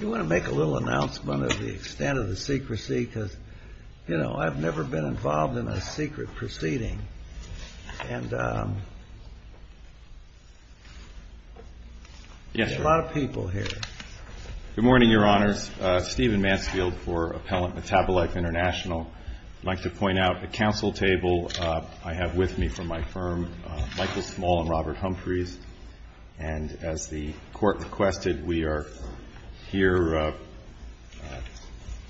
You want to make a little announcement of the extent of the secrecy? Because, you know, I've never been involved in a secret proceeding. And, um, yes, a lot of people here. Good morning, Your Honors. Uh, Stephen Mansfield for Appellant Metabolite International. I'd like to point out the council table, uh, I have with me from my firm, uh, Michael Small and Robert Humphreys. And as the court requested, we are here, uh,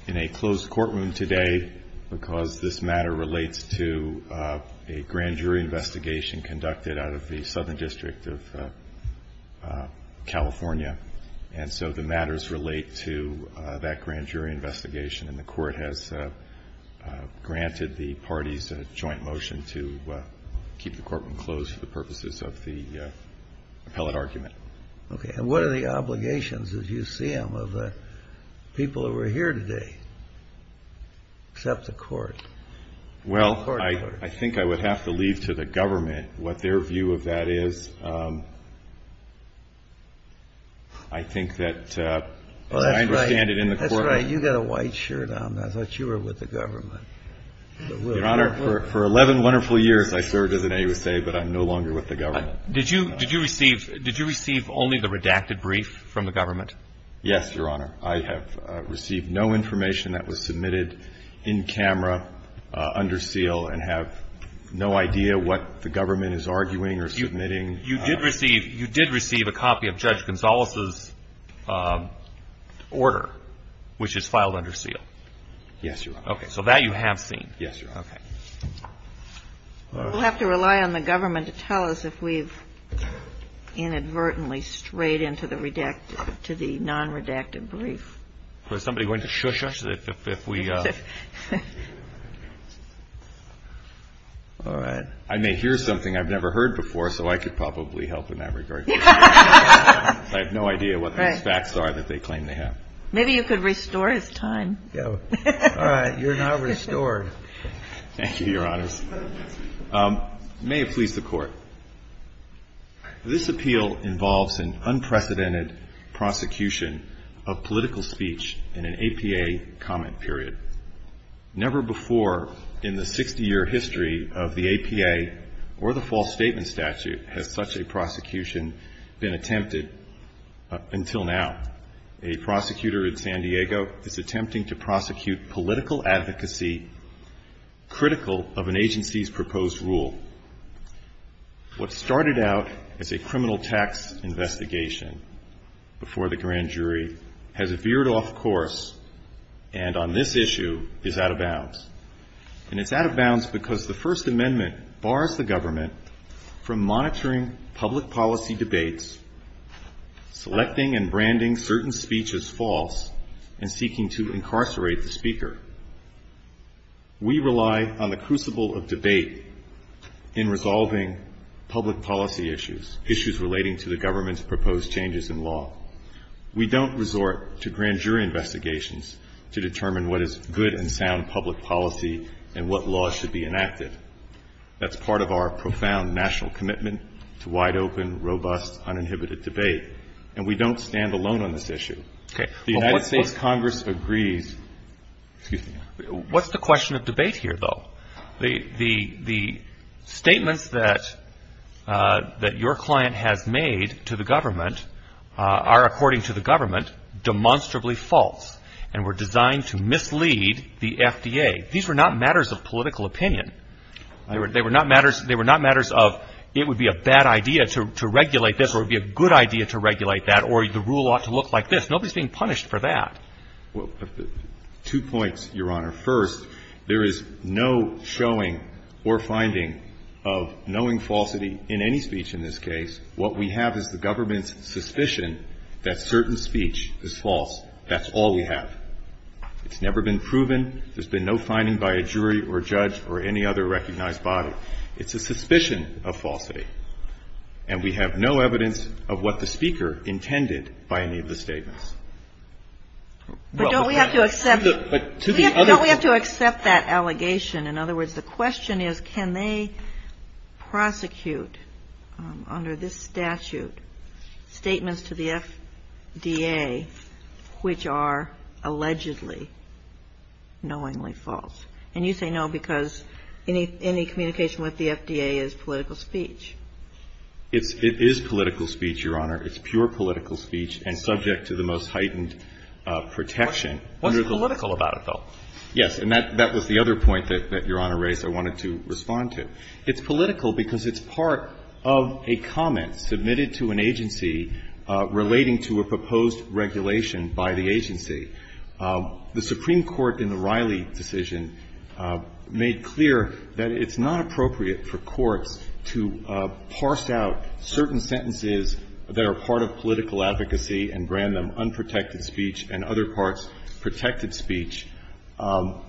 in a closed courtroom today, because this matter relates to, uh, a grand jury investigation conducted out of the Southern District of, uh, uh, California. And so the matters relate to, uh, that grand jury investigation and the court has, uh, uh, granted the parties a joint motion to, uh, keep the appellate argument. Okay. And what are the obligations as you see them of the people that were here today, except the court? Well, I, I think I would have to leave to the government what their view of that is, um, I think that, uh, I understand it in the courtroom. That's right. You got a white shirt on. I thought you were with the government. Your Honor, for 11 wonderful years, I served as an AUSA, but I'm no longer with the government. Did you, did you receive, did you receive only the redacted brief from the government? Yes, Your Honor. I have received no information that was submitted in camera, uh, under seal and have no idea what the government is arguing or submitting. You did receive, you did receive a copy of Judge Gonzales's, um, order, which is filed under seal. Yes, Your Honor. Okay. So that you have seen. Yes, Your Honor. Okay. We'll have to rely on the government to tell us if we've inadvertently strayed into the redacted, to the non-redacted brief. Was somebody going to shush us if, if, if we, uh, all right. I may hear something I've never heard before, so I could probably help in that regard. I have no idea what these facts are that they claim to have. Maybe you could restore his time. All right. You're now restored. Thank you, Your Honor. Um, may it please the court. This appeal involves an unprecedented prosecution of political speech in an APA comment period. Never before in the 60 year history of the APA or the false statement statute has such a prosecution been attempted until now. A prosecutor in San Diego is attempting to prosecute political advocacy critical of an agency's proposed rule. What started out as a criminal tax investigation before the grand jury has veered off course and on this issue is out of bounds and it's out of bounds because the first amendment bars the government from monitoring public policy debates, selecting and branding certain speeches false and seeking to incarcerate the speaker. We rely on the crucible of debate in resolving public policy issues, issues relating to the government's proposed changes in law. We don't resort to grand jury investigations to determine what is good and sound public policy and what laws should be enacted. That's part of our profound national commitment to wide open, robust, uninhibited debate, and we don't stand alone on this issue. Okay. The United States Congress agrees. Excuse me. What's the question of debate here though? The, the, the statements that, uh, that your client has made to the government, uh, are according to the government demonstrably false and were designed to mislead the FDA. These were not matters of political opinion. They were, they were not matters. They were not matters of, it would be a bad idea to regulate this, or it'd be a good idea to regulate that, or the rule ought to look like this. Nobody's being punished for that. Well, two points, Your Honor. First, there is no showing or finding of knowing falsity in any speech in this case, what we have is the government's suspicion that certain speech is false. That's all we have. It's never been proven. There's been no finding by a jury or judge or any other recognized body. It's a suspicion of falsity. But don't we have to accept, don't we have to accept that allegation? In other words, the question is, can they prosecute, um, under this statute, statements to the FDA, which are allegedly knowingly false? And you say no, because any, any communication with the FDA is political speech. It's, it is political speech, Your Honor. It's pure political speech and subject to the most heightened protection. What's political about it, though? Yes. And that, that was the other point that, that Your Honor raised I wanted to respond to. It's political because it's part of a comment submitted to an agency relating to a proposed regulation by the agency. The Supreme Court in the Riley decision made clear that it's not appropriate for courts to, uh, parse out certain sentences that are part of political advocacy and brand them unprotected speech and other parts protected speech, um,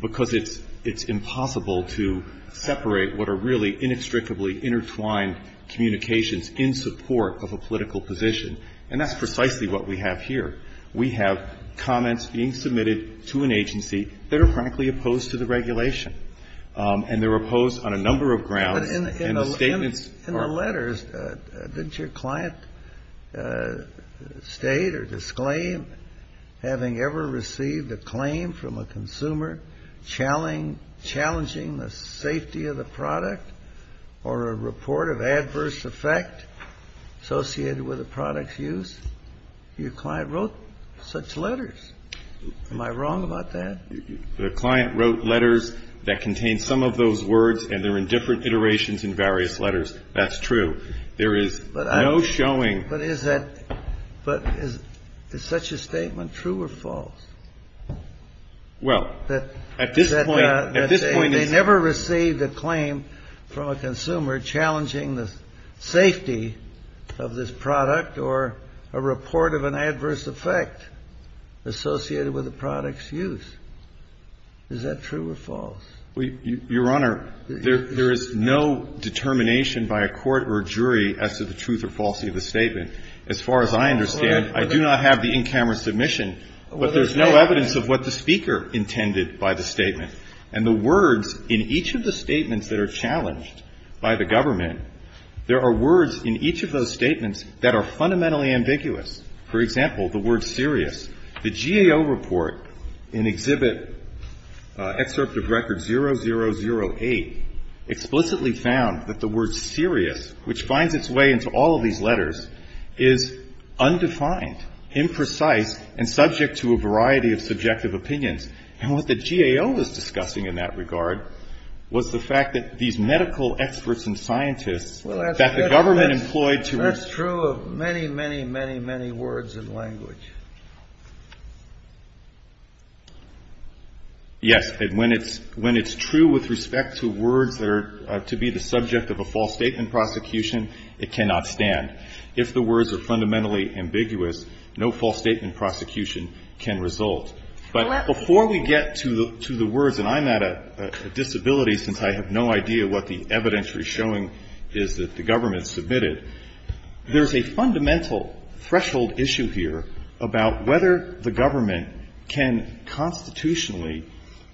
because it's, it's impossible to separate what are really inextricably intertwined communications in support of a political position. And that's precisely what we have here. We have comments being submitted to an agency that are frankly opposed to the regulation. Um, and they're opposed on a number of grounds and the statements. In the letters, uh, uh, didn't your client, uh, state or disclaim having ever received a claim from a consumer challenging, challenging the safety of the product or a report of adverse effect associated with a product's use? Your client wrote such letters. Am I wrong about that? The client wrote letters that contain some of those words and they're in different iterations in various letters. That's true. There is no showing. But is that, but is, is such a statement true or false? Well, at this point, at this point, they never received a claim from a consumer challenging the safety of this product or a report of an adverse effect associated with the product's use. Is that true or false? We, Your Honor, there, there is no determination by a court or jury as to the truth or falsity of the statement. As far as I understand, I do not have the in-camera submission, but there's no evidence of what the speaker intended by the statement and the words in each of the statements that are challenged by the government. There are words in each of those statements that are fundamentally ambiguous. For example, the word serious. The GAO report in Exhibit Excerpt of Record 0008 explicitly found that the word serious, which finds its way into all of these letters, is undefined, imprecise, and subject to a variety of subjective opinions. And what the GAO was discussing in that regard was the fact that these medical experts and scientists that the government employed to. That's true of many, many, many, many words and language. Yes, and when it's true with respect to words that are to be the subject of a false statement prosecution, it cannot stand. If the words are fundamentally ambiguous, no false statement prosecution can result. But before we get to the words, and I'm at a disability since I have no idea what the There's a fundamental threshold issue here about whether the government can constitutionally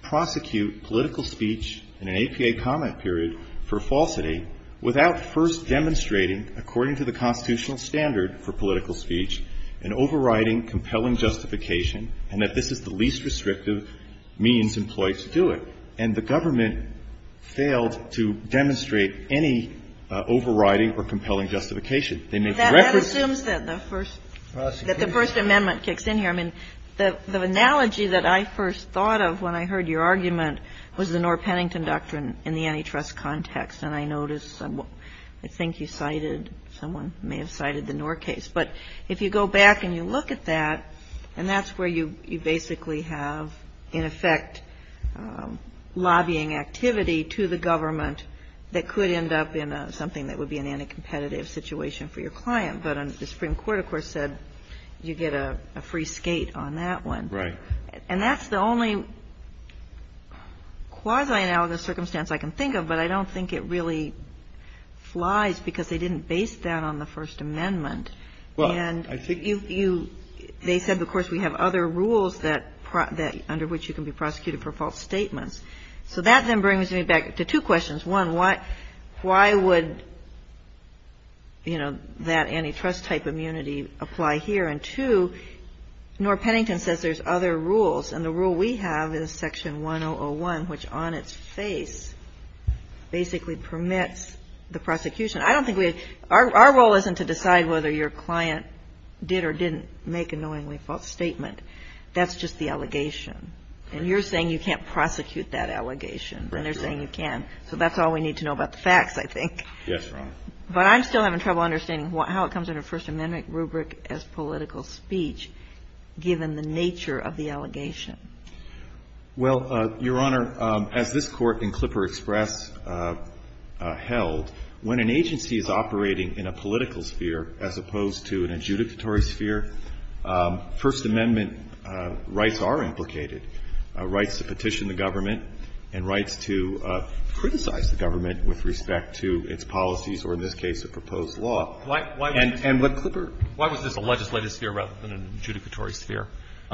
prosecute political speech in an APA comment period for falsity without first demonstrating, according to the constitutional standard for political speech, an overriding, compelling justification, and that this is the least restrictive means employed to do it. And the government failed to demonstrate any overriding or compelling justification. They made the record. That assumes that the first that the First Amendment kicks in here. I mean, the analogy that I first thought of when I heard your argument was the Knorr-Pennington Doctrine in the antitrust context. And I noticed I think you cited someone may have cited the Knorr case. But if you go back and you look at that, and that's where you basically have, in effect, lobbying activity to the government that could end up in something that would be an in a competitive situation for your client. But the Supreme Court, of course, said you get a free skate on that one. Right. And that's the only quasi-analogous circumstance I can think of, but I don't think it really flies because they didn't base that on the First Amendment. And you they said, of course, we have other rules that under which you can be prosecuted for false statements. So that then brings me back to two questions. One, why would, you know, that antitrust type immunity apply here? And two, Knorr-Pennington says there's other rules. And the rule we have is Section 1001, which on its face basically permits the prosecution. I don't think we have our role isn't to decide whether your client did or didn't make a knowingly false statement. That's just the allegation. And you're saying you can't prosecute that allegation, and they're saying you can. So that's all we need to know about the facts, I think. Yes, Your Honor. But I'm still having trouble understanding how it comes under First Amendment rubric as political speech, given the nature of the allegation. Well, Your Honor, as this Court in Clipper Express held, when an agency is operating in a political sphere as opposed to an adjudicatory sphere, First Amendment rights are implicated, rights to petition the government and rights to criticize the government with respect to its policies or, in this case, a proposed law. Why was this a legislative sphere rather than an adjudicatory sphere?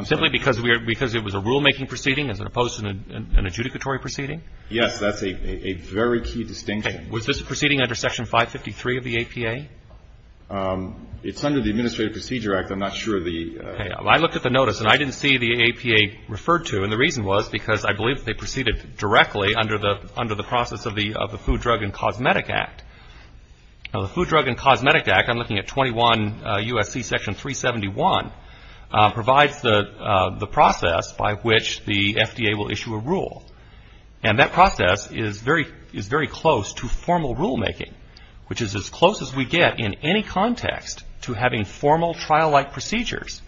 Simply because it was a rulemaking proceeding as opposed to an adjudicatory proceeding? Yes. That's a very key distinction. Was this a proceeding under Section 553 of the APA? It's under the Administrative Procedure Act. I'm not sure of the... I looked at the notice and I didn't see the APA referred to, and the reason was because I believe they proceeded directly under the process of the Food, Drug, and Cosmetic Act. Now, the Food, Drug, and Cosmetic Act, I'm looking at 21 U.S.C. Section 371, provides the process by which the FDA will issue a rule. And that process is very close to formal rulemaking, which is as close as we get in any context to having formal trial-like procedures,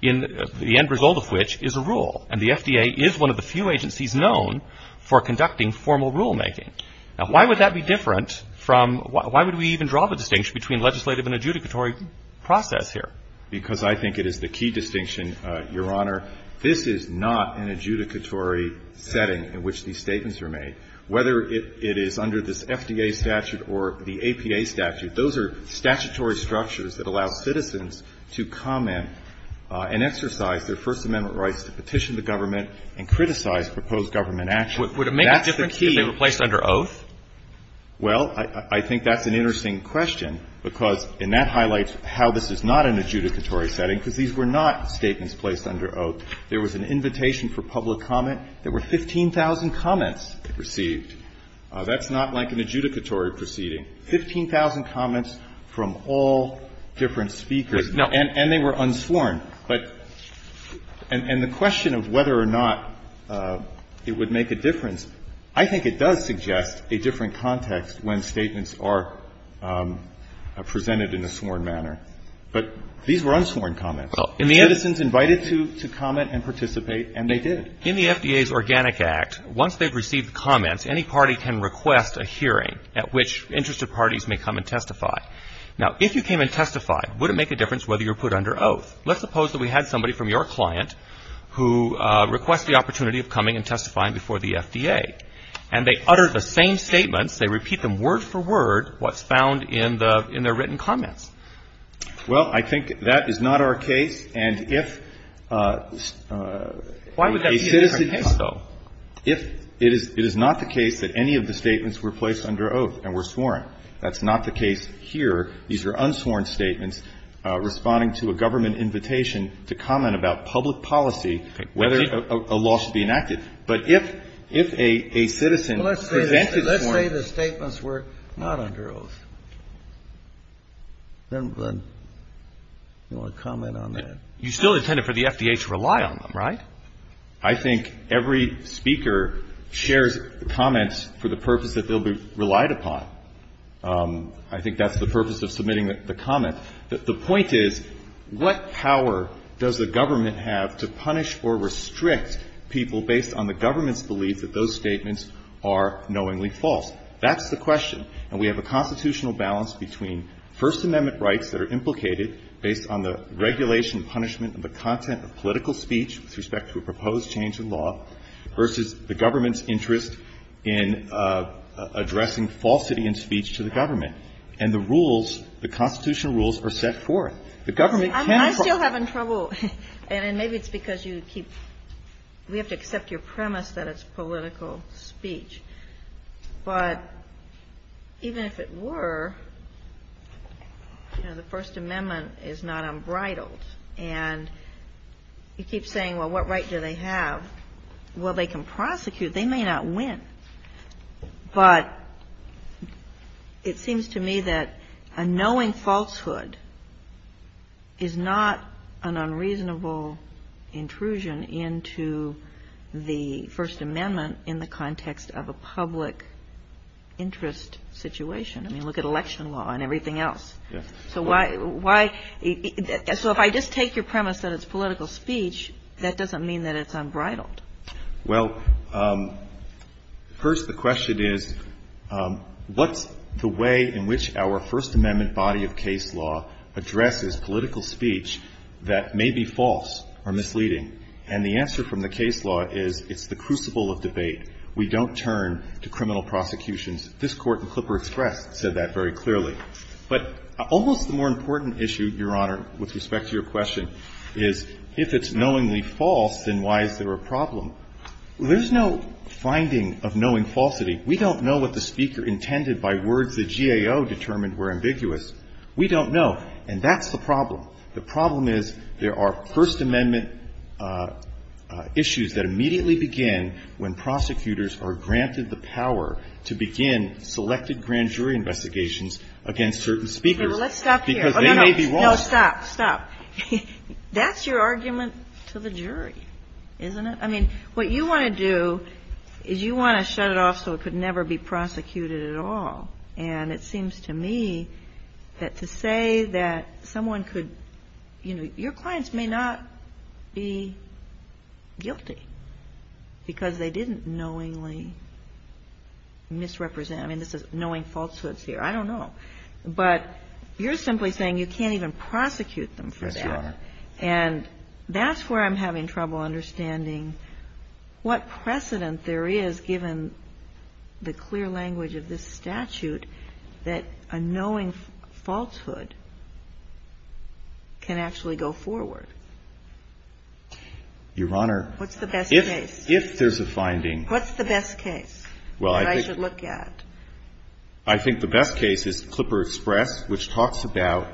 the end result of which is a rule. And the FDA is one of the few agencies known for conducting formal rulemaking. Now, why would that be different from, why would we even draw the distinction between legislative and adjudicatory process here? Because I think it is the key distinction, Your Honor. This is not an adjudicatory setting in which these statements are made. Whether it is under this FDA statute or the APA statute, those are statutory structures that allow citizens to comment and exercise their First Amendment rights to petition the government and criticize proposed government action. That's the key. Alitoson Would it make a difference if they were placed under oath? Well, I think that's an interesting question, because, and that highlights how this is not an adjudicatory setting, because these were not statements placed under oath. There was an invitation for public comment. There were 15,000 comments received. That's not like an adjudicatory proceeding. 15,000 comments from all different speakers. And they were unsworn. But, and the question of whether or not it would make a difference, I think it does suggest a different context when statements are presented in a sworn manner. But these were unsworn comments. Citizens invited to comment and participate, and they did. In the FDA's Organic Act, once they've received comments, any party can request a hearing at which interested parties may come and testify. Now, if you came and testified, would it make a difference whether you were put under oath? Let's suppose that we had somebody from your client who requested the opportunity of coming and testifying before the FDA, and they uttered the same statements. They repeat them word for word what's found in their written comments. Well, I think that is not our case. And if a citizen has to go, if it is not the case that any of the statements were placed under oath and were sworn, that's not the case here. These are unsworn statements responding to a government invitation to comment about public policy, whether a law should be enacted. But if a citizen presented a sworn. Let's say the statements were not under oath. Then you want to comment on that? You still intended for the FDA to rely on them, right? I think every speaker shares comments for the purpose that they'll be relied upon. I think that's the purpose of submitting the comment. The point is, what power does the government have to punish or restrict people based on the government's belief that those statements are knowingly false? That's the question. And we have a constitutional balance between First Amendment rights that are implicated based on the regulation and punishment of the content of political speech with respect to a proposed change in law versus the government's interest in addressing falsity in speech to the government. And the rules, the constitutional rules are set forth. The government can't. I'm still having trouble. And maybe it's because you keep, we have to accept your premise that it's political speech. But even if it were, you know, the First Amendment is not unbridled. And you keep saying, well, what right do they have? Well, they can prosecute. They may not win. But it seems to me that a knowing falsehood is not an unreasonable intrusion into the First Amendment in the context of a public interest situation. I mean, look at election law and everything else. So why, so if I just take your premise that it's political speech, that doesn't mean that it's unbridled. Well, first the question is, what's the way in which our First Amendment body of case law addresses political speech that may be false or misleading? And the answer from the case law is it's the crucible of debate. We don't turn to criminal prosecutions. This Court in Clipper Express said that very clearly. But almost the more important issue, Your Honor, with respect to your question, is if it's knowingly false, then why is there a problem? There's no finding of knowing falsity. We don't know what the speaker intended by words the GAO determined were ambiguous. We don't know. And that's the problem. The problem is there are First Amendment issues that immediately begin when prosecutors are granted the power to begin selected grand jury investigations against certain speakers because they may be wrong. No, no, stop, stop. That's your argument to the jury, isn't it? I mean, what you want to do is you want to shut it off so it could never be prosecuted at all. And it seems to me that to say that someone could, you know, your clients may not be guilty because they didn't knowingly misrepresent. I mean, this is knowing falsehoods here. I don't know. But you're simply saying you can't even prosecute them for that. And that's where I'm having trouble understanding what precedent there is given the clear language of this statute that a knowing falsehood can actually go forward. Your Honor, if there's a finding. What's the best case that I should look at? I think the best case is Clipper Express, which talks about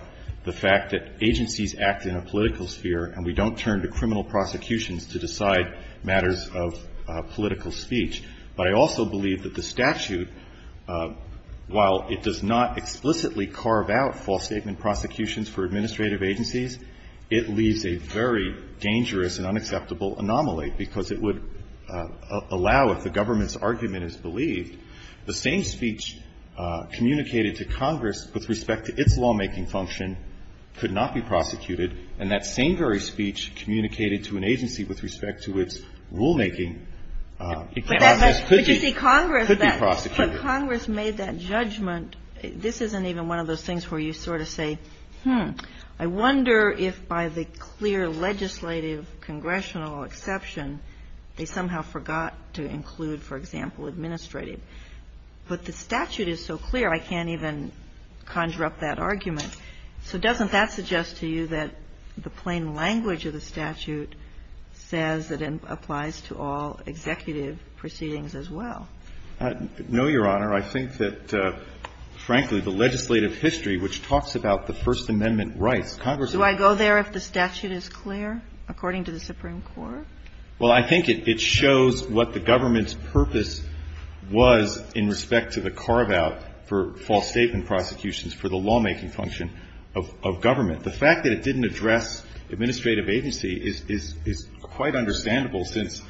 the fact that agencies act in a political sphere and we don't turn to criminal prosecutions to decide matters of political speech. But I also believe that the statute, while it does not explicitly carve out false statement prosecutions for administrative agencies, it leaves a very dangerous and unacceptable anomaly because it would allow, if the government's argument is believed, the same speech communicated to Congress with respect to its lawmaking function could not be prosecuted. And that same very speech communicated to an agency with respect to its rulemaking process could be prosecuted. But Congress made that judgment. This isn't even one of those things where you sort of say, hmm, I wonder if by the clear legislative congressional exception, they somehow forgot to include, for example, administrative. But the statute is so clear, I can't even conjure up that argument. So doesn't that suggest to you that the plain language of the statute says that it doesn't involve executive proceedings as well? No, Your Honor. I think that, frankly, the legislative history, which talks about the First Amendment rights, Congress would Do I go there if the statute is clear, according to the Supreme Court? Well, I think it shows what the government's purpose was in respect to the carve-out for false statement prosecutions for the lawmaking function of government. The fact that it didn't address administrative agency is quite understandable since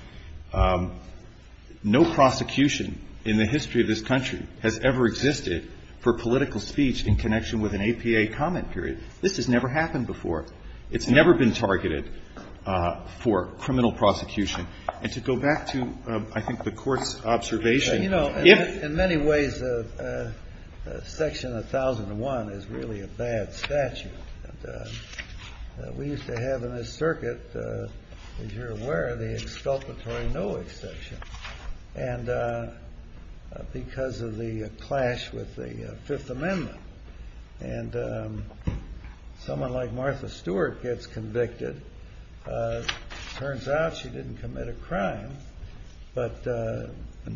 no prosecution in the history of this country has ever existed for political speech in connection with an APA comment period. This has never happened before. It's never been targeted for criminal prosecution. And to go back to, I think, the Court's observation, if You know, in many ways, Section 1001 is really a bad statute. And we used to have in this circuit, as you're aware, the exculpatory no exception. And because of the clash with the Fifth Amendment, and someone like Martha Stewart gets convicted, turns out she didn't commit a crime, but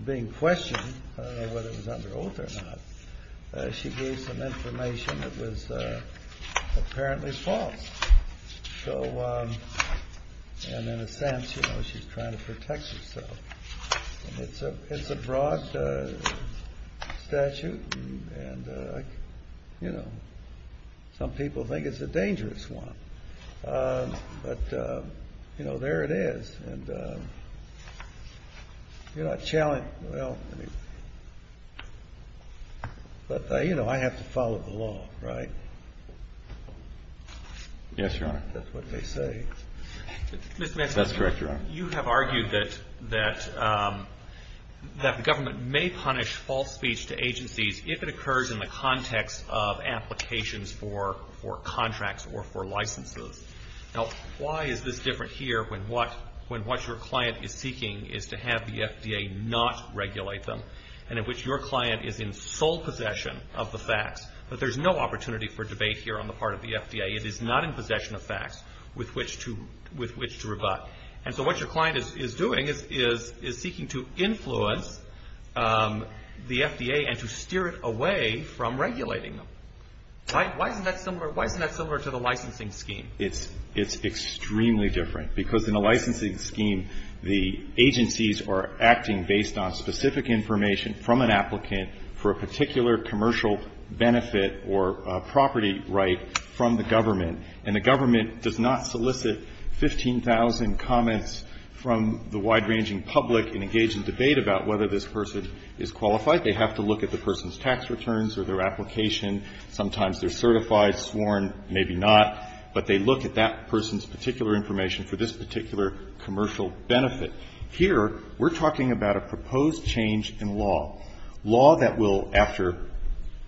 being questioned, I don't know whether it was under oath or not, she gave some information that was apparently false. So, and in a sense, you know, she's trying to protect herself. It's a broad statute. And, you know, some people think it's a dangerous one. But, you know, there it is. And, you know, I challenge, well, but, you know, I have to follow the law, right? Yes, Your Honor. That's what they say. Mr. Mansfield, you have argued that the government may punish false speech to agencies if it occurs in the context of applications for contracts or for licenses. Now, why is this different here when what your client is seeking is to have the FDA not regulate them, and in which your client is in sole possession of the facts? But there's no opportunity for debate here on the part of the FDA. It is not in possession of facts with which to rebut. And so what your client is doing is seeking to influence the FDA and to steer it away from regulating them. Why isn't that similar to the licensing scheme? It's extremely different. Because in a licensing scheme, the agencies are acting based on specific information from an applicant for a particular commercial benefit or property right from the government. And the government does not solicit 15,000 comments from the wide-ranging public and engage in debate about whether this person is qualified. They have to look at the person's tax returns or their application. Sometimes they're certified, sworn, maybe not. But they look at that person's particular information for this particular commercial benefit. Here, we're talking about a proposed change in law, law that will, after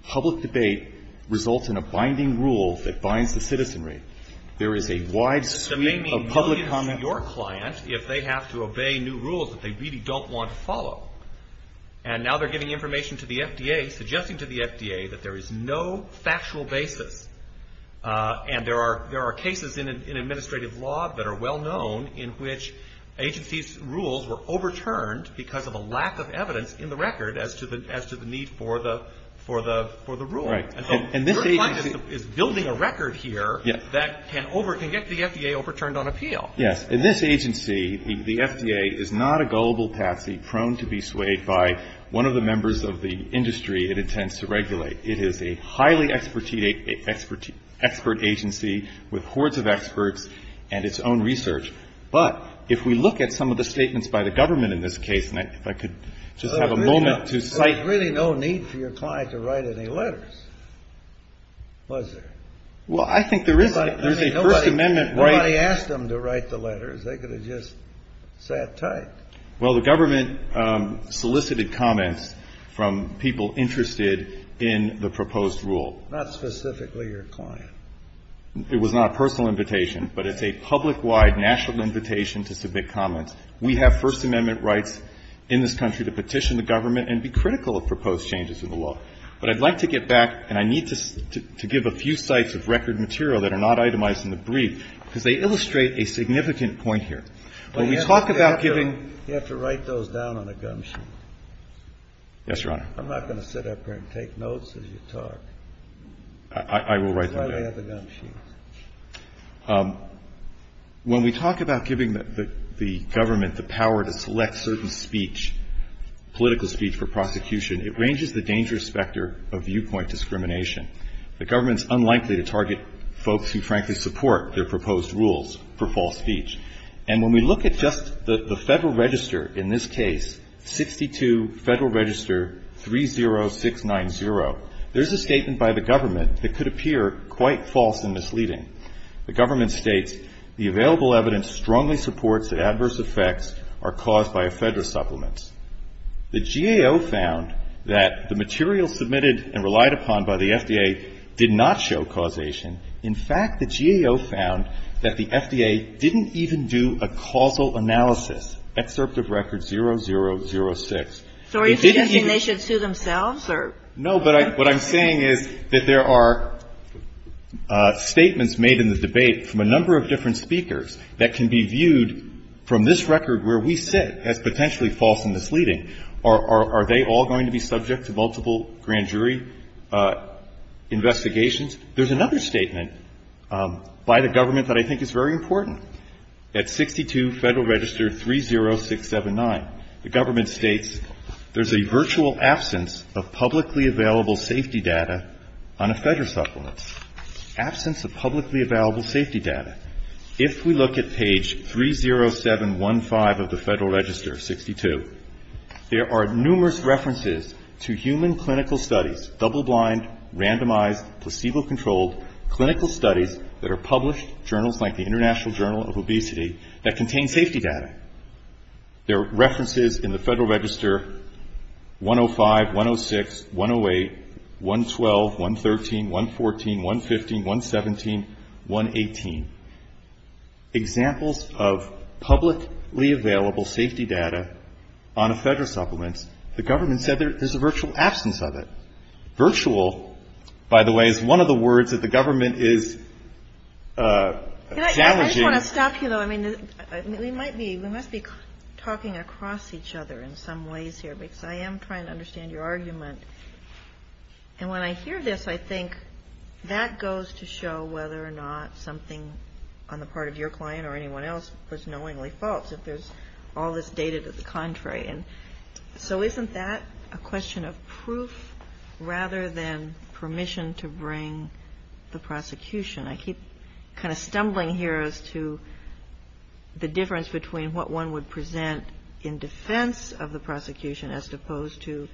public debate, result in a binding rule that binds the citizenry. There is a wide suite of public comment. But that may mean millions to your client if they have to obey new rules that they really don't want to follow. And now they're giving information to the FDA, suggesting to the FDA that there is no factual basis. And there are cases in administrative law that are well known in which agencies' rules were overturned because of a lack of evidence in the record as to the need for the rule. And so your client is building a record here that can get the FDA overturned on appeal. Yes. In this agency, the FDA is not a gullible patsy prone to be swayed by one of the members of the industry it intends to regulate. It is a highly expert agency with hordes of experts and its own research. But if we look at some of the statements by the government in this case, and if I could just have a moment to cite. There was really no need for your client to write any letters, was there? Well, I think there is a First Amendment right. Nobody asked them to write the letters. They could have just sat tight. Well, the government solicited comments from people interested in the proposed rule. Not specifically your client. It was not a personal invitation, but it's a public-wide national invitation to submit comments. We have First Amendment rights in this country to petition the government and be critical of proposed changes in the law. But I'd like to get back, and I need to give a few sites of record material that are not itemized in the brief, because they illustrate a significant point here. You have to write those down on a gum sheet. Yes, Your Honor. I'm not going to sit up here and take notes as you talk. I will write them down. That's why they have the gum sheet. When we talk about giving the government the power to select certain speech, political speech for prosecution, it ranges the dangerous specter of viewpoint discrimination. The government's unlikely to target folks who frankly support their proposed rules for false speech. And when we look at just the Federal Register, in this case, 62 Federal Register 30690, there's a statement by the government that could appear quite false and misleading. The government states, the available evidence strongly supports that adverse effects are caused by a Federal supplement. The GAO found that the material submitted and relied upon by the FDA did not show causation. In fact, the GAO found that the FDA didn't even do a causal analysis. Excerpt of record 0006. So are you suggesting they should sue themselves or? No, but what I'm saying is that there are statements made in the debate from a number of different speakers that can be viewed from this record where we sit as potentially false and misleading. Are they all going to be subject to multiple grand jury investigations? There's another statement by the government that I think is very important. At 62 Federal Register 30679, the government states there's a virtual absence of publicly available safety data on a Federal supplement, absence of publicly available safety data. If we look at page 30715 of the Federal Register 62, there are numerous references to human clinical studies, double-blind, randomized, placebo-controlled clinical studies that are published journals like the International Journal of Obesity that contain safety data. There are references in the Federal Register 105, 106, 108, 112, 113, 114, 115, 117, 118. Examples of publicly available safety data on a Federal supplement, the government said there's a virtual absence of it. Virtual, by the way, is one of the words that the government is challenging. I just want to stop you though. I mean, we might be, we must be talking across each other in some ways here because I am trying to understand your argument. And when I hear this, I think that goes to show whether or not something on the part of your client or anyone else was knowingly false if there's all this data to the contrary. And so isn't that a question of proof rather than permission to bring the prosecution? I keep kind of stumbling here as to the difference between what one would present in defense of the prosecution as opposed to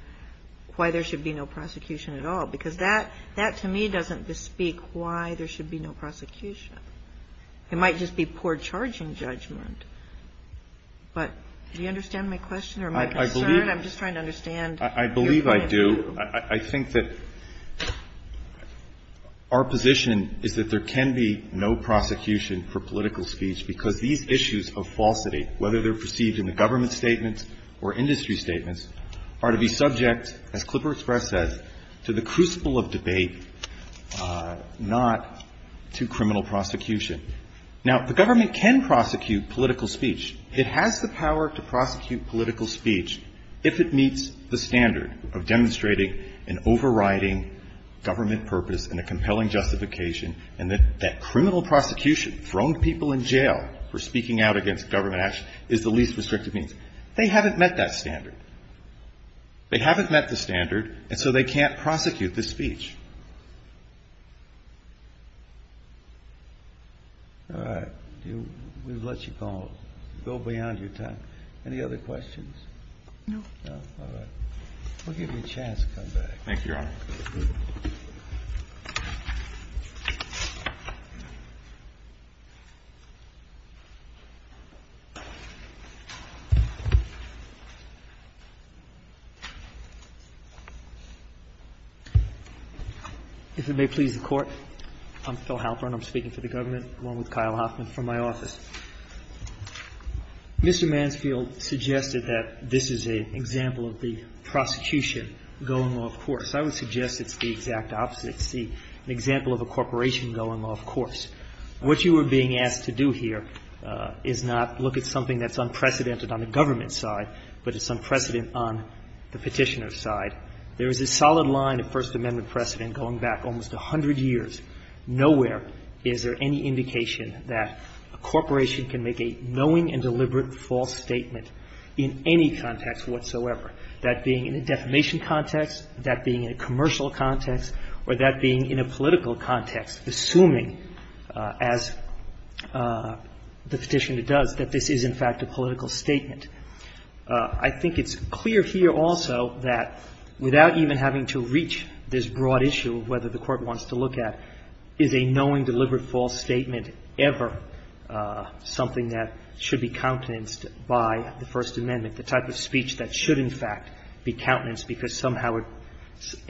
why there should be no prosecution at all, because that to me doesn't bespeak why there should be no prosecution. It might just be poor charging judgment. But do you understand my question or my concern? I'm just trying to understand your point. I believe I do. I think that our position is that there can be no prosecution for political speech because these issues of falsity, whether they're perceived in the government statements or industry statements, are to be subject, as Klipper Express says, to the crucible of debate, not to criminal prosecution. Now, the government can prosecute political speech. It has the power to prosecute political speech if it meets the standard of demonstrating an overriding government purpose and a compelling justification and that that criminal prosecution, throwing people in jail for speaking out against government action, is the least restrictive means. They haven't met that standard. They haven't met the standard, and so they can't prosecute the speech. All right. We've let you go beyond your time. Any other questions? No. We'll give you a chance to come back. Thank you, Your Honor. If it may please the Court, I'm Phil Halpern. I'm speaking for the government, along with Kyle Hoffman from my office. Mr. Mansfield suggested that this is an example of the prosecution going off course. I would suggest it's the exact opposite. It's an example of a corporation going off course. What you are being asked to do here is not look at something that's unprecedented on the government side, but it's unprecedented on the Petitioner's side. There is a solid line of First Amendment precedent going back almost 100 years, nowhere is there any indication that a corporation can make a knowing and deliberate false statement in any context whatsoever. That being in a defamation context, that being in a commercial context, or that being in a political context, assuming, as the Petitioner does, that this is, in fact, a political statement. I think it's clear here also that without even having to reach this broad issue of whether the Court wants to look at is a knowing, deliberate false statement ever something that should be countenanced by the First Amendment, the type of speech that should, in fact, be countenanced because somehow it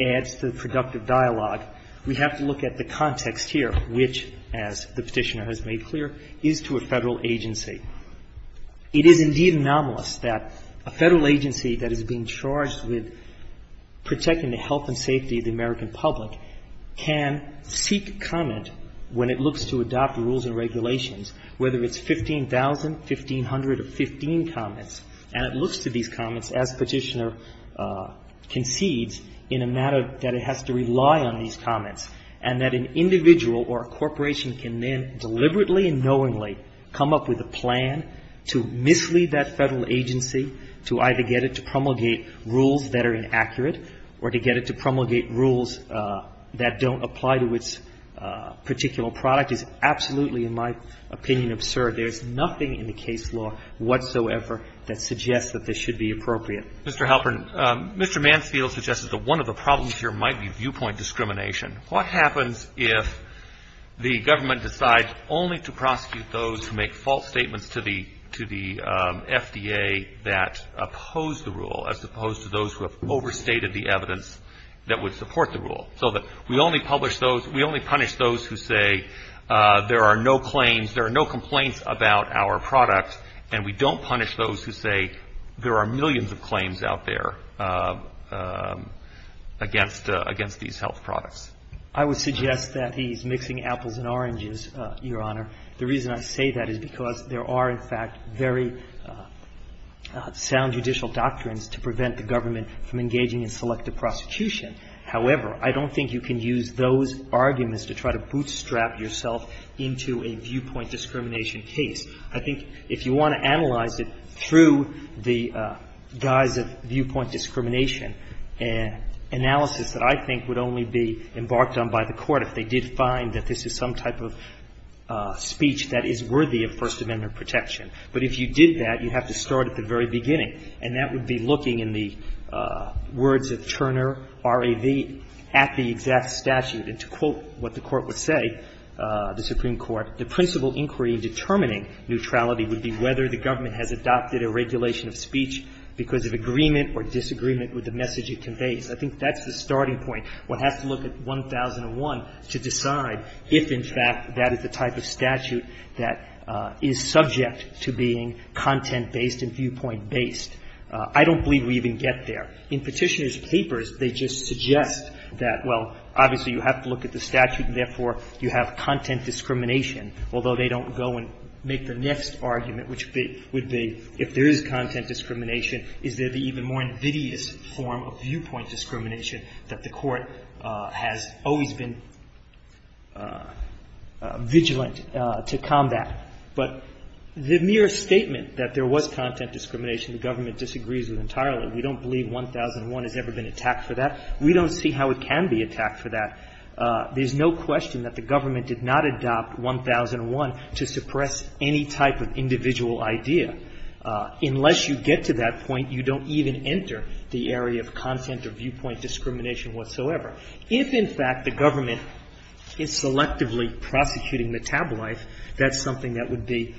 adds to the productive dialogue, we have to look at the context here, which, as the Petitioner has made clear, is to a Federal agency. It is indeed anomalous that a Federal agency that is being charged with protecting the health and safety of the American public can seek comment when it looks to adopt rules and regulations, whether it's 15,000, 1,500, or 15 comments, and it looks to these comments, as Petitioner concedes, in a manner that it has to rely on these comments, and that an individual or a corporation can then deliberately and knowingly come up with a plan to mislead that Federal agency to either get it to promulgate rules that are inaccurate or to get it to promulgate rules that don't apply to its particular product is absolutely, in my opinion, absurd. There's nothing in the case law whatsoever that suggests that this should be appropriate. Mr. Halpern, Mr. Mansfield suggested that one of the problems here might be viewpoint discrimination. What happens if the government decides only to prosecute those who make false statements to the FDA that oppose the rule, as opposed to those who have overstated the evidence that would support the rule, so that we only punish those who say there are no claims, there are no complaints about our product, and we don't punish those who say there are millions of claims out there against these health products? I would suggest that he's mixing apples and oranges, Your Honor. The reason I say that is because there are, in fact, very sound judicial doctrines to prevent the government from engaging in selective prosecution. However, I don't think you can use those arguments to try to bootstrap yourself into a viewpoint discrimination case. I think if you want to analyze it through the guise of viewpoint discrimination and analysis that I think would only be embarked on by the Court if they did find that this is some type of speech that is worthy of First Amendment protection. But if you did that, you'd have to start at the very beginning, and that would be looking in the words of Turner, R.A.V., at the exact statute. And to quote what the Court would say, the Supreme Court, the principal inquiry in determining neutrality would be whether the government has adopted a regulation of speech because of agreement or disagreement with the message it conveys. I think that's the starting point. One has to look at 1001 to decide if, in fact, that is the type of statute that is subject to being content-based and viewpoint-based. I don't believe we even get there. In Petitioner's papers, they just suggest that, well, obviously you have to look at the statute, and therefore you have content discrimination, although they don't go and make the next argument, which would be if there is content discrimination, is there the even more invidious form of viewpoint discrimination that the Court has always been vigilant to combat? But the mere statement that there was content discrimination, the government disagrees with entirely. We don't believe 1001 has ever been attacked for that. We don't see how it can be attacked for that. There's no question that the government did not adopt 1001 to suppress any type of individual idea. Unless you get to that point, you don't even enter the area of content or viewpoint discrimination whatsoever. If, in fact, the government is selectively prosecuting the tabloid, that's something that would be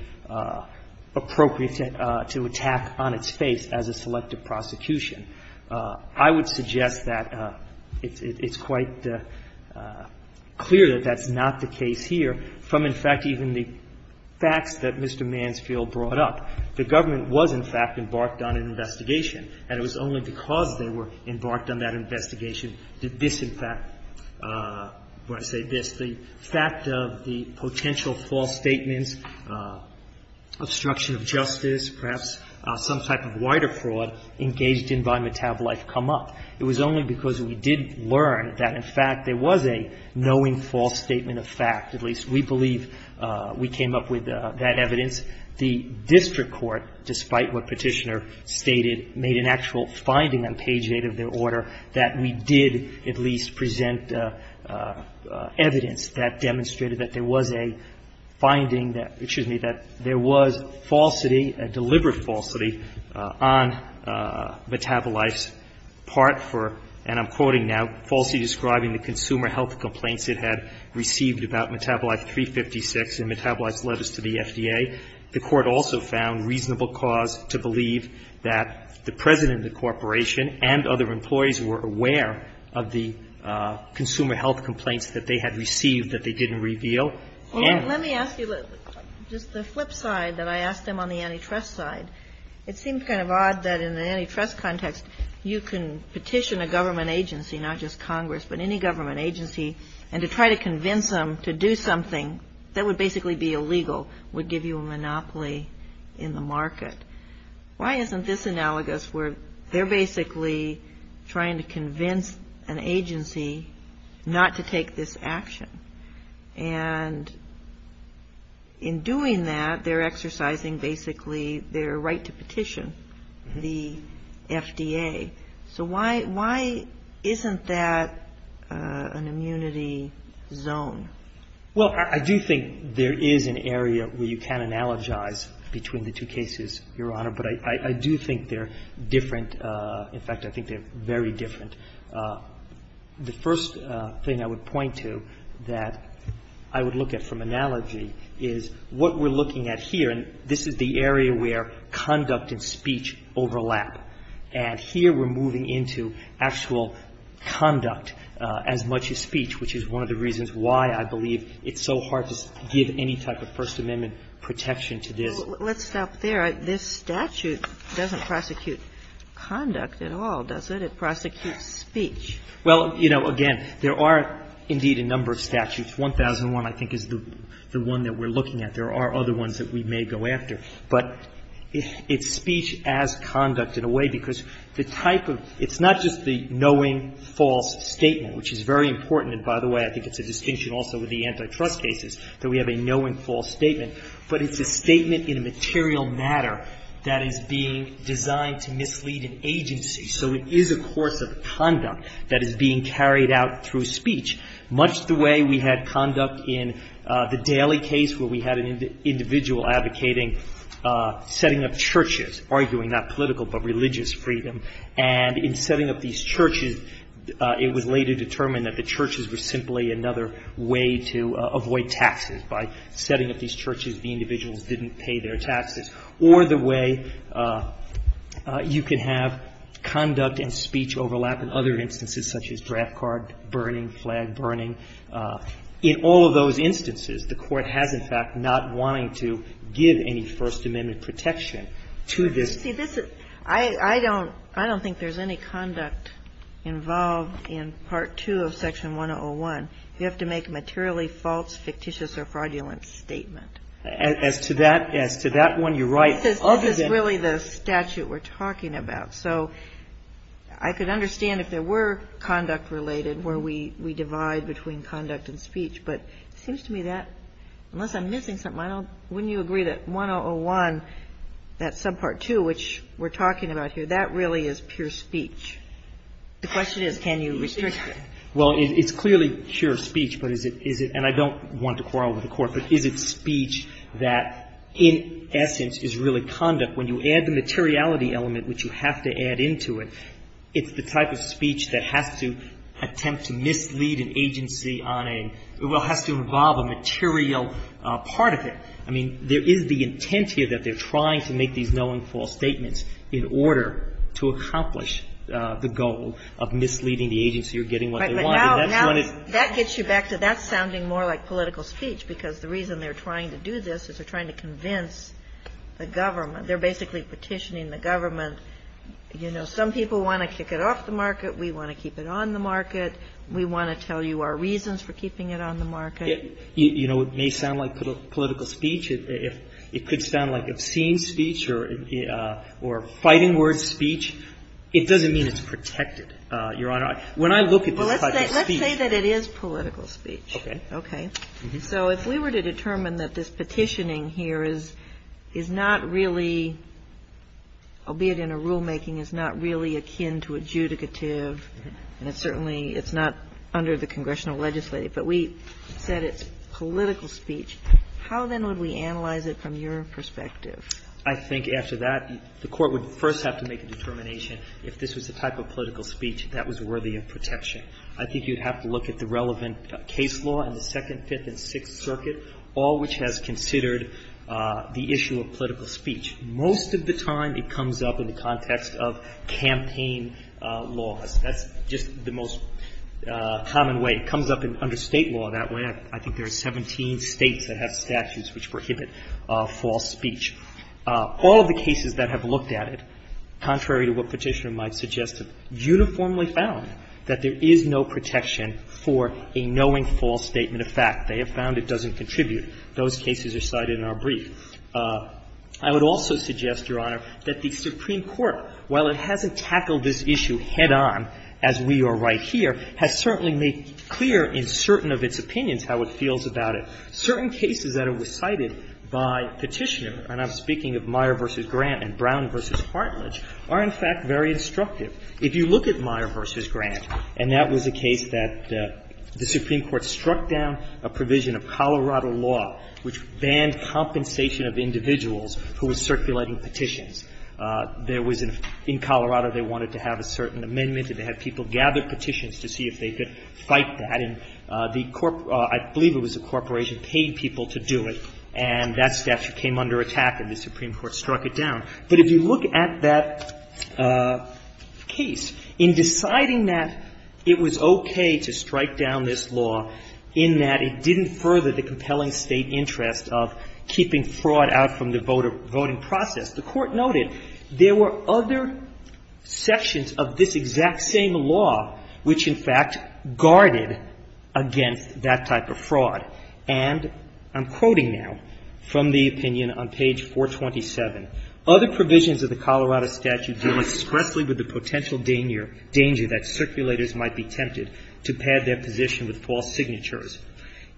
appropriate to attack on its face as a selective prosecution. I would suggest that it's quite clear that that's not the case here from, in fact, even the facts that Mr. Mansfield brought up. The government was, in fact, embarked on an investigation, and it was only because they were embarked on that investigation did this, in fact, when I say this, the fact of the potential false statements, obstruction of justice, perhaps some type of wider fraud engaged in by Metabolife come up. It was only because we did learn that, in fact, there was a knowing false statement of fact. At least, we believe we came up with that evidence. The district court, despite what Petitioner stated, made an actual finding on page 8 of their order that we did at least present evidence that demonstrated that there was a finding that there was falsity, a deliberate falsity on Metabolife's part for, and I'm quoting now, falsely describing the consumer health complaints it had received about Metabolife 356 in Metabolife's letters to the FDA. The court also found reasonable cause to believe that the president of the corporation and other employees were aware of the consumer health complaints that they had received that they didn't reveal. And let me ask you just the flip side that I asked them on the antitrust side. It seems kind of odd that in an antitrust context, you can petition a government agency, not just Congress, but any government agency, and to try to convince them to do something that would basically be illegal would give you a monopoly in the market. Why isn't this analogous where they're basically trying to convince an agency not to take this action? And in doing that, they're exercising basically their right to petition the FDA. So why isn't that an immunity zone? Well, I do think there is an area where you can analogize between the two cases, Your Honor, but I do think they're different. In fact, I think they're very different. The first thing I would point to that I would look at from analogy is what we're looking at here. And this is the area where conduct and speech overlap. And here we're moving into actual conduct as much as speech, which is one of the reasons why I believe it's so hard to give any type of First Amendment protection to this. Let's stop there. This statute doesn't prosecute conduct at all, does it? It prosecutes speech. Well, you know, again, there are indeed a number of statutes. 1001, I think, is the one that we're looking at. There are other ones that we may go after. But it's speech as conduct in a way, because the type of it's not just the knowing false statement, which is very important. And by the way, I think it's a distinction also with the antitrust cases that we have a knowing false statement. But it's a statement in a material matter that is being designed to mislead an agency. So it is a course of conduct that is being carried out through speech, much the way we had conduct in the Daley case, where we had an individual advocating setting up churches, arguing not political, but religious freedom. And in setting up these churches, it was later determined that the churches were simply another way to avoid taxes. By setting up these churches, the individuals didn't pay their taxes. Or the way you can have conduct and speech overlap in other instances, such as draft card burning, flag burning, in all of those instances, the Court has, in fact, not wanting to give any First Amendment protection to this. I don't think there's any conduct involved in Part 2 of Section 101. You have to make a materially false, fictitious, or fraudulent statement. As to that one, you're right. This is really the statute we're talking about. So I could understand if there were conduct-related, where we divide between conduct and speech. But it seems to me that, unless I'm missing something, wouldn't you agree that 101, that subpart 2, which we're talking about here, that really is pure speech? The question is, can you restrict it? Well, it's clearly pure speech. But is it, and I don't want to quarrel with the Court, but is it speech that, in essence, is really conduct? When you add the materiality element, which you have to add into it, it's the type of speech that has to attempt to mislead an agency on a, well, has to involve a material part of it. I mean, there is the intent here that they're trying to make these no-and-false statements in order to accomplish the goal of misleading the agency or getting what they want. And that's what it's going to do. That gets you back to that sounding more like political speech, because the reason they're trying to do this is they're trying to convince the government. They're basically petitioning the government, you know, some people want to kick it off the market, we want to keep it on the market, we want to tell you our reasons for keeping it on the market. You know, it may sound like political speech. It could sound like obscene speech or fighting word speech. It doesn't mean it's protected, Your Honor. When I look at the type of speech. Well, let's say that it is political speech. Okay. Okay. So if we were to determine that this petitioning here is not really, albeit in a rulemaking, is not really akin to adjudicative, and it's certainly not under the congressional legislature, but we said it's political speech, how then would we analyze it from your perspective? I think after that, the Court would first have to make a determination if this was the type of political speech that was worthy of protection. I think you'd have to look at the relevant case law in the Second, Fifth, and Sixth Circuit, all which has considered the issue of political speech. Most of the time it comes up in the context of campaign laws. That's just the most common way. It comes up under State law that way. I think there are 17 States that have statutes which prohibit false speech. All of the cases that have looked at it, contrary to what Petitioner might suggest, have uniformly found that there is no protection for a knowing false statement of fact. They have found it doesn't contribute. Those cases are cited in our brief. I would also suggest, Your Honor, that the Supreme Court, while it hasn't tackled this issue head on as we are right here, has certainly made clear in certain of its opinions how it feels about it. Certain cases that were cited by Petitioner, and I'm speaking of Meyer v. Grant and Brown v. Hartledge, are, in fact, very instructive. If you look at Meyer v. Grant, and that was a case that the Supreme Court struck down a provision of Colorado law which banned compensation of individuals who were circulating petitions. There was a – in Colorado they wanted to have a certain amendment and they had people gather petitions to see if they could fight that. And the – I believe it was a corporation paid people to do it, and that statute came under attack and the Supreme Court struck it down. But if you look at that case, in deciding that it was okay to strike down this law in that it didn't further the compelling State interest of keeping fraud out from the voter – voting process, the Court noted there were other sections of this exact same law which, in fact, guarded against that type of fraud. And I'm quoting now from the opinion on page 427. Other provisions of the Colorado statute deal expressly with the potential danger that circulators might be tempted to pad their position with false signatures.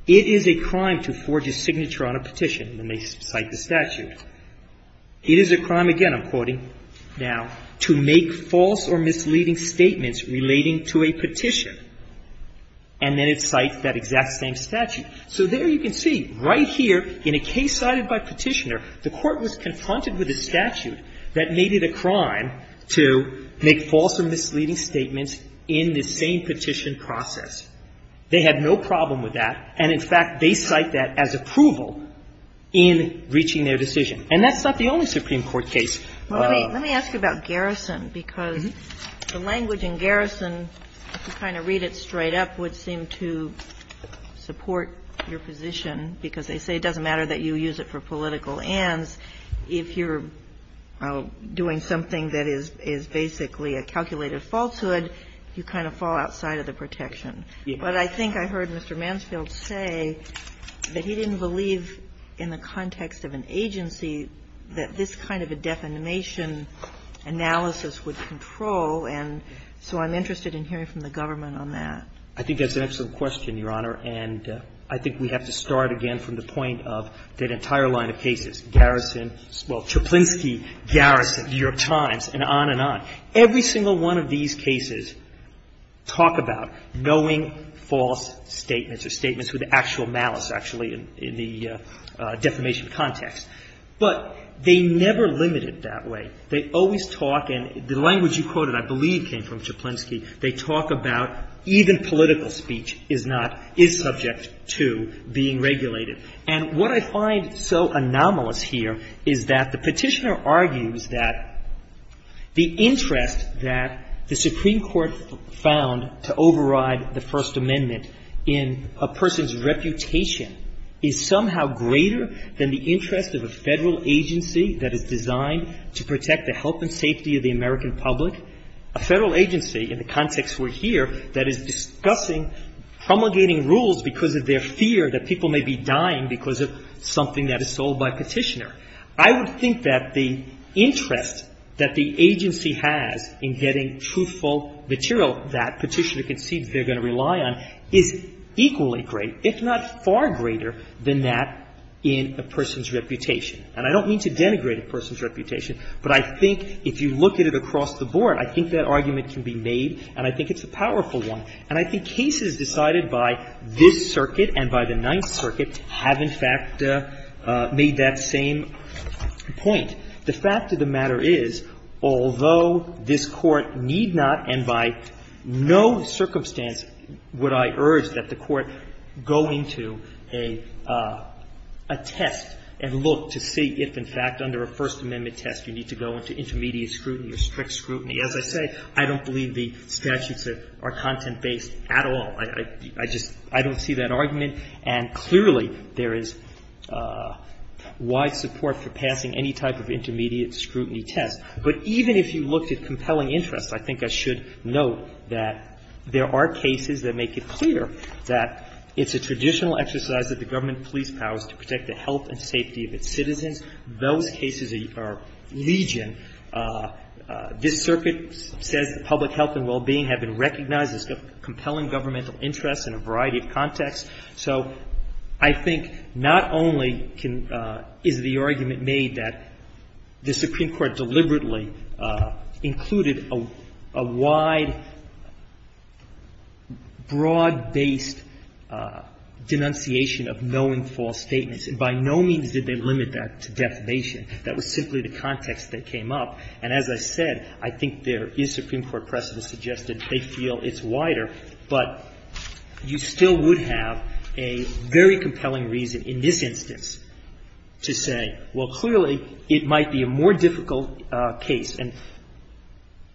It is a crime to forge a signature on a petition, and they cite the statute. It is a crime, again, I'm quoting now, to make false or misleading statements relating to a petition, and then it cites that exact same statute. So there you can see, right here, in a case cited by Petitioner, the Court was confronted with a statute that made it a crime to make false or misleading statements in the same petition process. They had no problem with that, and, in fact, they cite that as approval in reaching their decision. And that's not the only Supreme Court case. Kagan. Let me ask you about Garrison, because the language in Garrison, if you kind of read it straight up, would seem to support your position, because they say it doesn't matter that you use it for political ends, if you're doing something that is basically a calculated falsehood, you kind of fall outside of the protection. But I think I heard Mr. Mansfield say that he didn't believe, in the context of an agency, that this kind of a defamation analysis would control. And so I'm interested in hearing from the government on that. I think that's an excellent question, Your Honor. And I think we have to start again from the point of that entire line of cases, Garrison, well, Tchaplinsky, Garrison, New York Times, and on and on. Every single one of these cases talk about knowing false statements or statements with actual malice, actually, in the defamation context. But they never limit it that way. They always talk, and the language you quoted, I believe, came from Tchaplinsky. They talk about even political speech is not, is subject to being regulated. And what I find so anomalous here is that the petitioner argues that the interest that the Supreme Court found to override the First Amendment in a person's reputation is somehow greater than the interest of a Federal agency that is designed to protect the health and safety of the American public, a Federal agency, in the context we're here, that is discussing promulgating rules because of their fear that people may be dying because of something that is sold by a petitioner. I would think that the interest that the agency has in getting truthful material that petitioner concedes they're going to rely on is equally great, if not far greater, than that in a person's reputation. And I don't mean to denigrate a person's reputation, but I think if you look at it across the board, I think that argument can be made, and I think it's a powerful one. And I think cases decided by this circuit and by the Ninth Circuit have, in fact, made that same point. The fact of the matter is, although this Court need not, and by no circumstance would I urge that the Court go into a test and look to see if, in fact, under a First Amendment test, you need to go into intermediate scrutiny or strict scrutiny. As I say, I don't believe the statutes are content-based at all. I just don't see that argument, and clearly there is wide support for passing any type of intermediate scrutiny test. But even if you looked at compelling interests, I think I should note that there are cases that make it clear that it's a traditional exercise of the government police powers to protect the health and safety of its citizens. Those cases are legion. This circuit says that public health and well-being have been recognized as compelling governmental interests in a variety of contexts. So I think not only is the argument made that the Supreme Court deliberately included a wide, broad-based denunciation of no and false statements, and by no means did they limit that to defamation. That was simply the context that came up. And as I said, I think there is Supreme Court precedent to suggest that they feel it's wider, but you still would have a very compelling reason in this instance to say, well, clearly it might be a more difficult case. And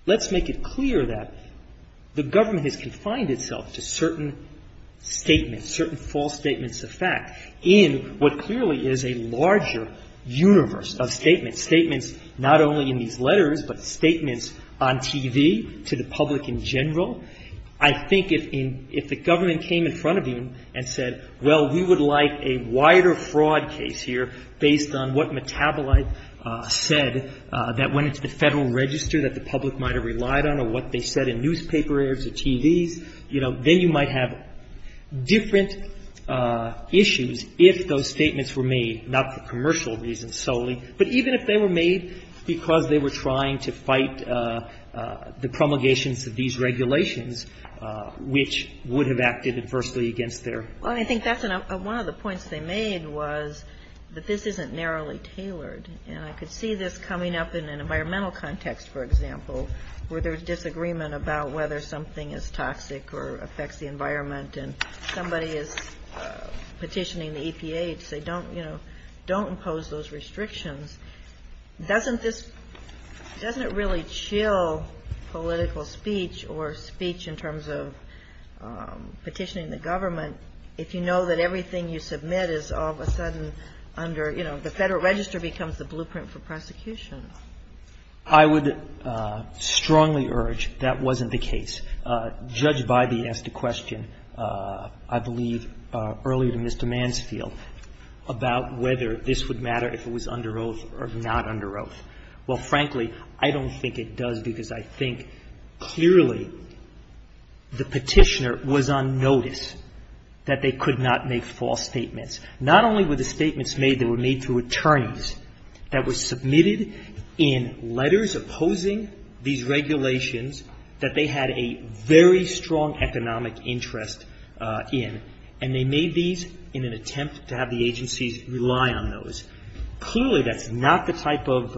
let's make it clear that the government has confined itself to certain statements, certain false statements of fact, in what clearly is a larger universe of statements, statements not only in these letters, but statements on TV to the public in general. I think if the government came in front of you and said, well, we would like a wider fraud case here based on what Metabolite said that went into the Federal Register that the public might have relied on or what they said in newspaper airs or TVs, you know, then you might have different issues if those statements were made, not for commercial reasons solely, but even if they were made because they were trying to fight the promulgations of these regulations, which would have acted adversely against their own. Well, I think that's one of the points they made was that this isn't narrowly tailored. And I could see this coming up in an environmental context, for example, where there's disagreement about whether something is toxic or affects the environment and somebody is petitioning the EPA to say, you know, don't impose those restrictions. Doesn't this, doesn't it really chill political speech or speech in terms of petitioning the government if you know that everything you submit is all of a sudden under, you know, the Federal Register becomes the blueprint for prosecution? I would strongly urge that wasn't the case. Judge Bybee asked a question, I believe, earlier to Mr. Mansfield about whether this would matter if it was under oath or not under oath. Well, frankly, I don't think it does because I think clearly the petitioner was on notice that they could not make false statements. Not only were the statements made, they were made through attorneys that were submitted in letters opposing these regulations that they had a very strong economic interest in, and they made these in an attempt to have the agencies rely on those. Clearly, that's not the type of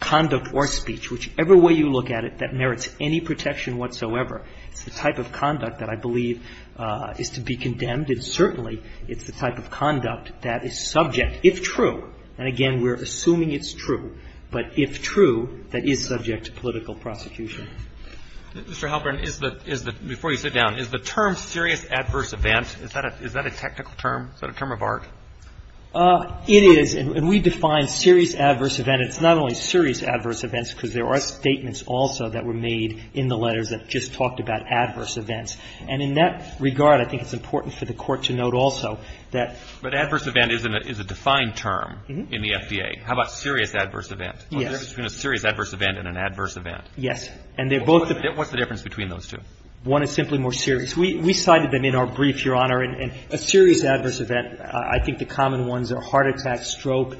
conduct or speech, whichever way you look at it, that merits any protection whatsoever. It's the type of conduct that I believe is to be condemned, and certainly it's the type of conduct that is subject, if true, and again, we're assuming it's true, but if true, that is subject to political prosecution. Mr. Halperin, is the – before you sit down, is the term serious adverse event, is that a technical term, is that a term of art? It is, and we define serious adverse event. It's not only serious adverse events because there are statements also that were made in the letters that just talked about adverse events. And in that regard, I think it's important for the Court to note also that – But adverse event is a defined term in the FDA. How about serious adverse event? Yes. What's the difference between a serious adverse event and an adverse event? Yes. And they're both – What's the difference between those two? One is simply more serious. We cited them in our brief, Your Honor, and a serious adverse event, I think the common ones are heart attack, stroke,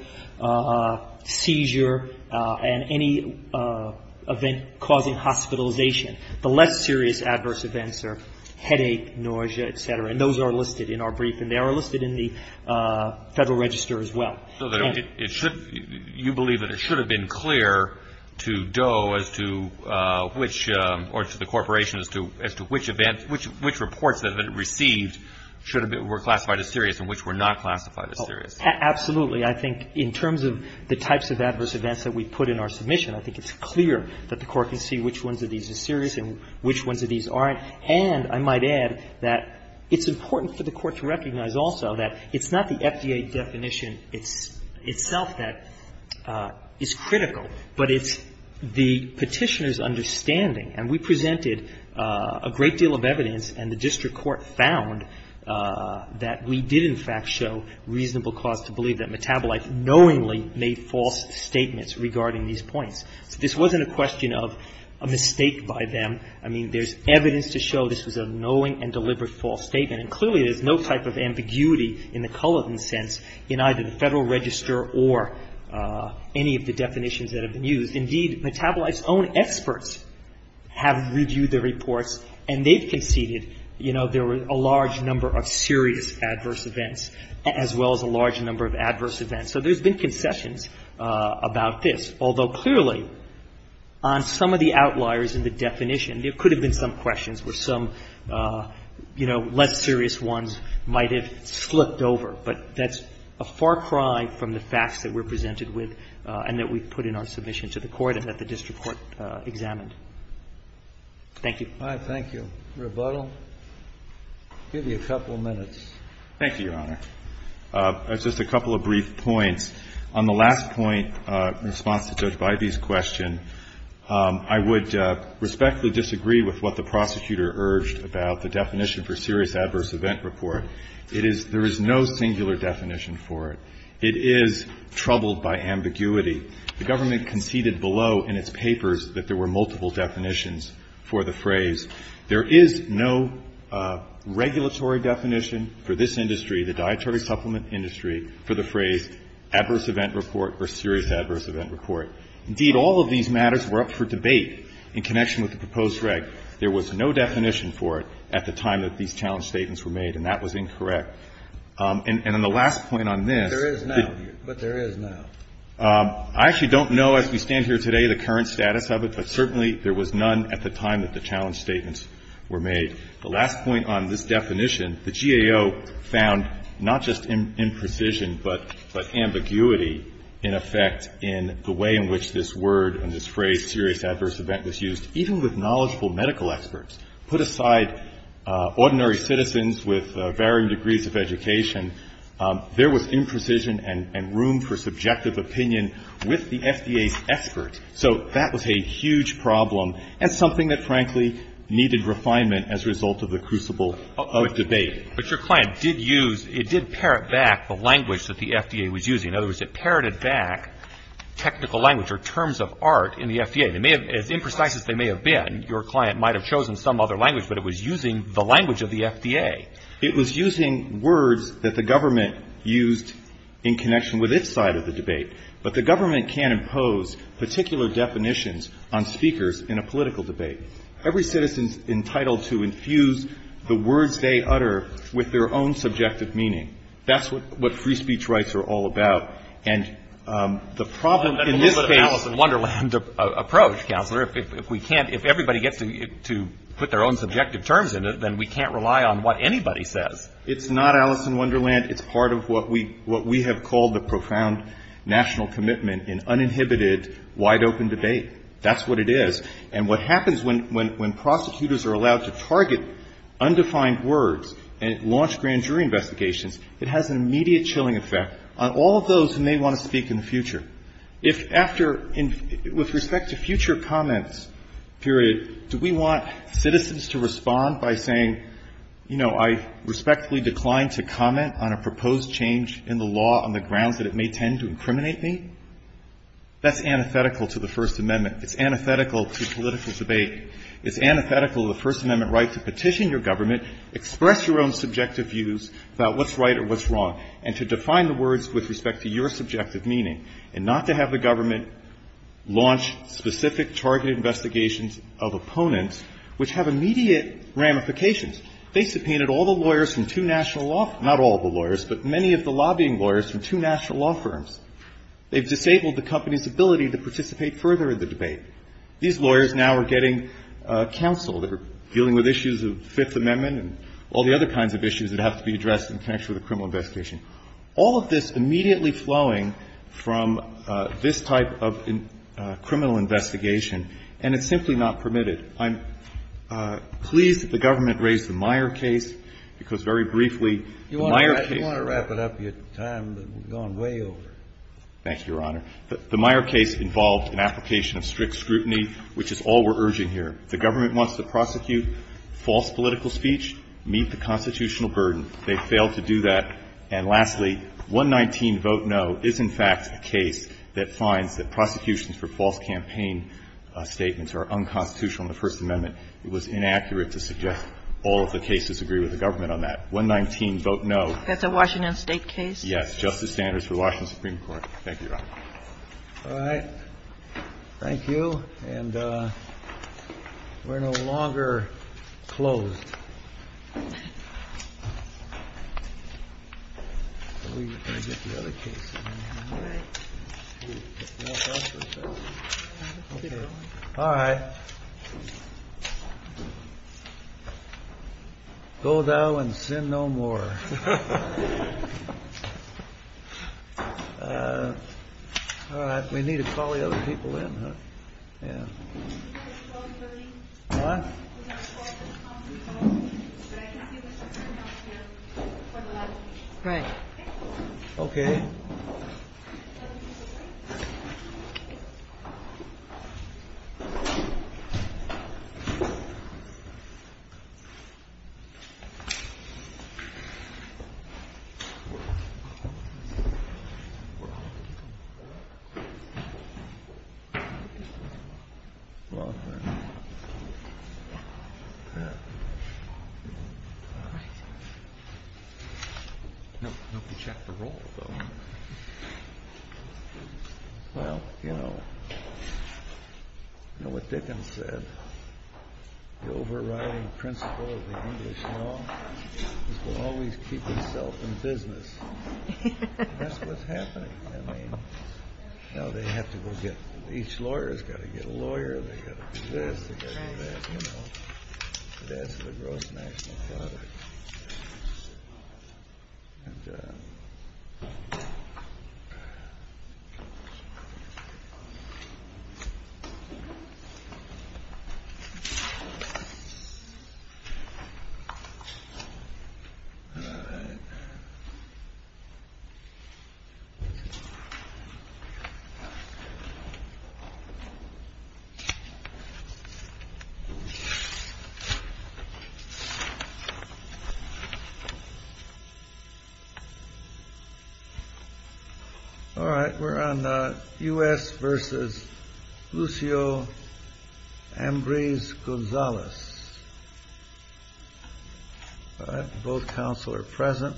seizure, and any event causing hospitalization. The less serious adverse events are headache, nausea, et cetera, and those are listed in our brief, and they are listed in the Federal Register as well. So it should – you believe that it should have been clear to Doe as to which – or to the Corporation as to which events – which reports that it received should have been – were classified as serious and which were not classified as serious? Absolutely. I think in terms of the types of adverse events that we put in our submission, I think it's clear that the Court can see which ones of these are serious and which ones of these aren't. And I might add that it's important for the Court to recognize also that it's not the FDA definition itself that is critical, but it's the Petitioner's understanding. And we presented a great deal of evidence, and the district court found that we did in fact show reasonable cause to believe that Metabolite knowingly made false statements regarding these points. So this wasn't a question of a mistake by them. I mean, there's evidence to show this was a knowing and deliberate false statement. And clearly, there's no type of ambiguity in the Cullivan sense in either the Federal Register or any of the definitions that have been used. Indeed, Metabolite's own experts have reviewed the reports, and they've conceded, you know, there were a large number of serious adverse events as well as a large number of adverse events. So there's been concessions about this, although clearly on some of the outliers in the definition, there could have been some questions where some, you know, less serious ones might have slipped over. But that's a far cry from the facts that we're presented with and that we put in our submission to the court and that the district court examined. Thank you. Thank you. Rebuttal? I'll give you a couple of minutes. Thank you, Your Honor. Just a couple of brief points. On the last point in response to Judge Bybee's question, I would respectfully disagree with what the prosecutor urged about the definition for serious adverse event report. It is – there is no singular definition for it. It is troubled by ambiguity. The government conceded below in its papers that there were multiple definitions for the phrase. There is no regulatory definition for this industry, the dietary supplement industry, for the phrase adverse event report or serious adverse event report. Indeed, all of these matters were up for debate in connection with the proposed reg. There was no definition for it at the time that these challenge statements were made, and that was incorrect. And on the last point on this – But there is now. But there is now. I actually don't know as we stand here today the current status of it, but certainly there was none at the time that the challenge statements were made. The last point on this definition, the GAO found not just imprecision but ambiguity in effect in the way in which this word and this phrase, serious adverse event, was used, even with knowledgeable medical experts. Put aside ordinary citizens with varying degrees of education, there was room for imprecision and room for subjective opinion with the FDA's experts. So that was a huge problem and something that, frankly, needed refinement as a result of the crucible of debate. But your client did use – it did parrot back the language that the FDA was using. In other words, it parroted back technical language or terms of art in the FDA. They may have – as imprecise as they may have been, your client might have chosen some other language, but it was using the language of the FDA. It was using words that the government used in connection with its side of the debate. But the government can't impose particular definitions on speakers in a political debate. Every citizen is entitled to infuse the words they utter with their own subjective meaning. That's what free speech rights are all about. And the problem in this case – Well, that's a little bit of Alice in Wonderland approach, Counselor. If we can't – if everybody gets to put their own subjective terms in it, then we can't rely on what anybody says. It's not Alice in Wonderland. It's part of what we have called the profound national commitment in uninhibited, wide-open debate. That's what it is. And what happens when prosecutors are allowed to target undefined words and launch grand jury investigations, it has an immediate chilling effect on all of those who may want to speak in the future. If after – with respect to future comments, period, do we want citizens to respond by saying, you know, I respectfully decline to comment on a proposed change in the law on the grounds that it may tend to incriminate me, that's antithetical to the First Amendment. It's antithetical to political debate. It's antithetical to the First Amendment right to petition your government, express your own subjective views about what's right or what's wrong, and to define the words with respect to your subjective meaning, and not to have the government launch specific targeted investigations of opponents which have immediate ramifications. They subpoenaed all the lawyers from two national law – not all the lawyers, but many of the lobbying lawyers from two national law firms. They've disabled the company's ability to participate further in the debate. These lawyers now are getting counsel. They're dealing with issues of the Fifth Amendment and all the other kinds of issues that have to be addressed in connection with a criminal investigation. All of this immediately flowing from this type of criminal investigation, and it's simply not permitted. I'm pleased that the government raised the Meyer case, because very briefly, the Meyer case – You want to wrap it up? Your time has gone way over. Thank you, Your Honor. The Meyer case involved an application of strict scrutiny, which is all we're urging here. The government wants to prosecute false political speech, meet the constitutional burden. They failed to do that. And lastly, 119, vote no, is in fact the case that finds that prosecutions for false campaign statements are unconstitutional in the First Amendment. It was inaccurate to suggest all of the cases agree with the government on that. 119, vote no. That's a Washington State case? Yes. Justice Sanders for Washington Supreme Court. Thank you, Your Honor. All right. Thank you. And we're no longer closed. We're going to get the other case in here, aren't we? All right. All right. Go thou and sin no more. All right. We need to call the other people in, huh? Yeah. What? Right. OK. Well, you know what Dickens said, the overriding principle of the English law is to always keep yourself in business. That's what's happening. I mean, now they have to go get, each lawyer has got to get a lawyer. They have to investigate. They have to know. That's the gross national product. And. All right. All right. We're on the U.S. versus Lucio Ambrose Gonzalez. All right. Both counsel are present.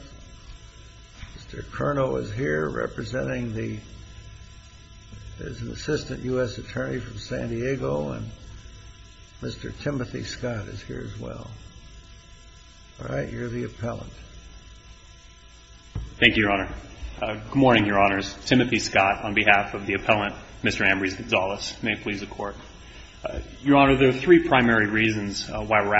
Mr. Curnow is here representing the, is an assistant U.S. attorney from San Diego. And Mr. Timothy Scott is here as well. All right. You're the appellant. Thank you, Your Honor. Good morning, Your Honors. Timothy Scott on behalf of the appellant, Mr. Ambrose Gonzalez. May it please the Court. Your Honor, there are three primary reasons why we're asking.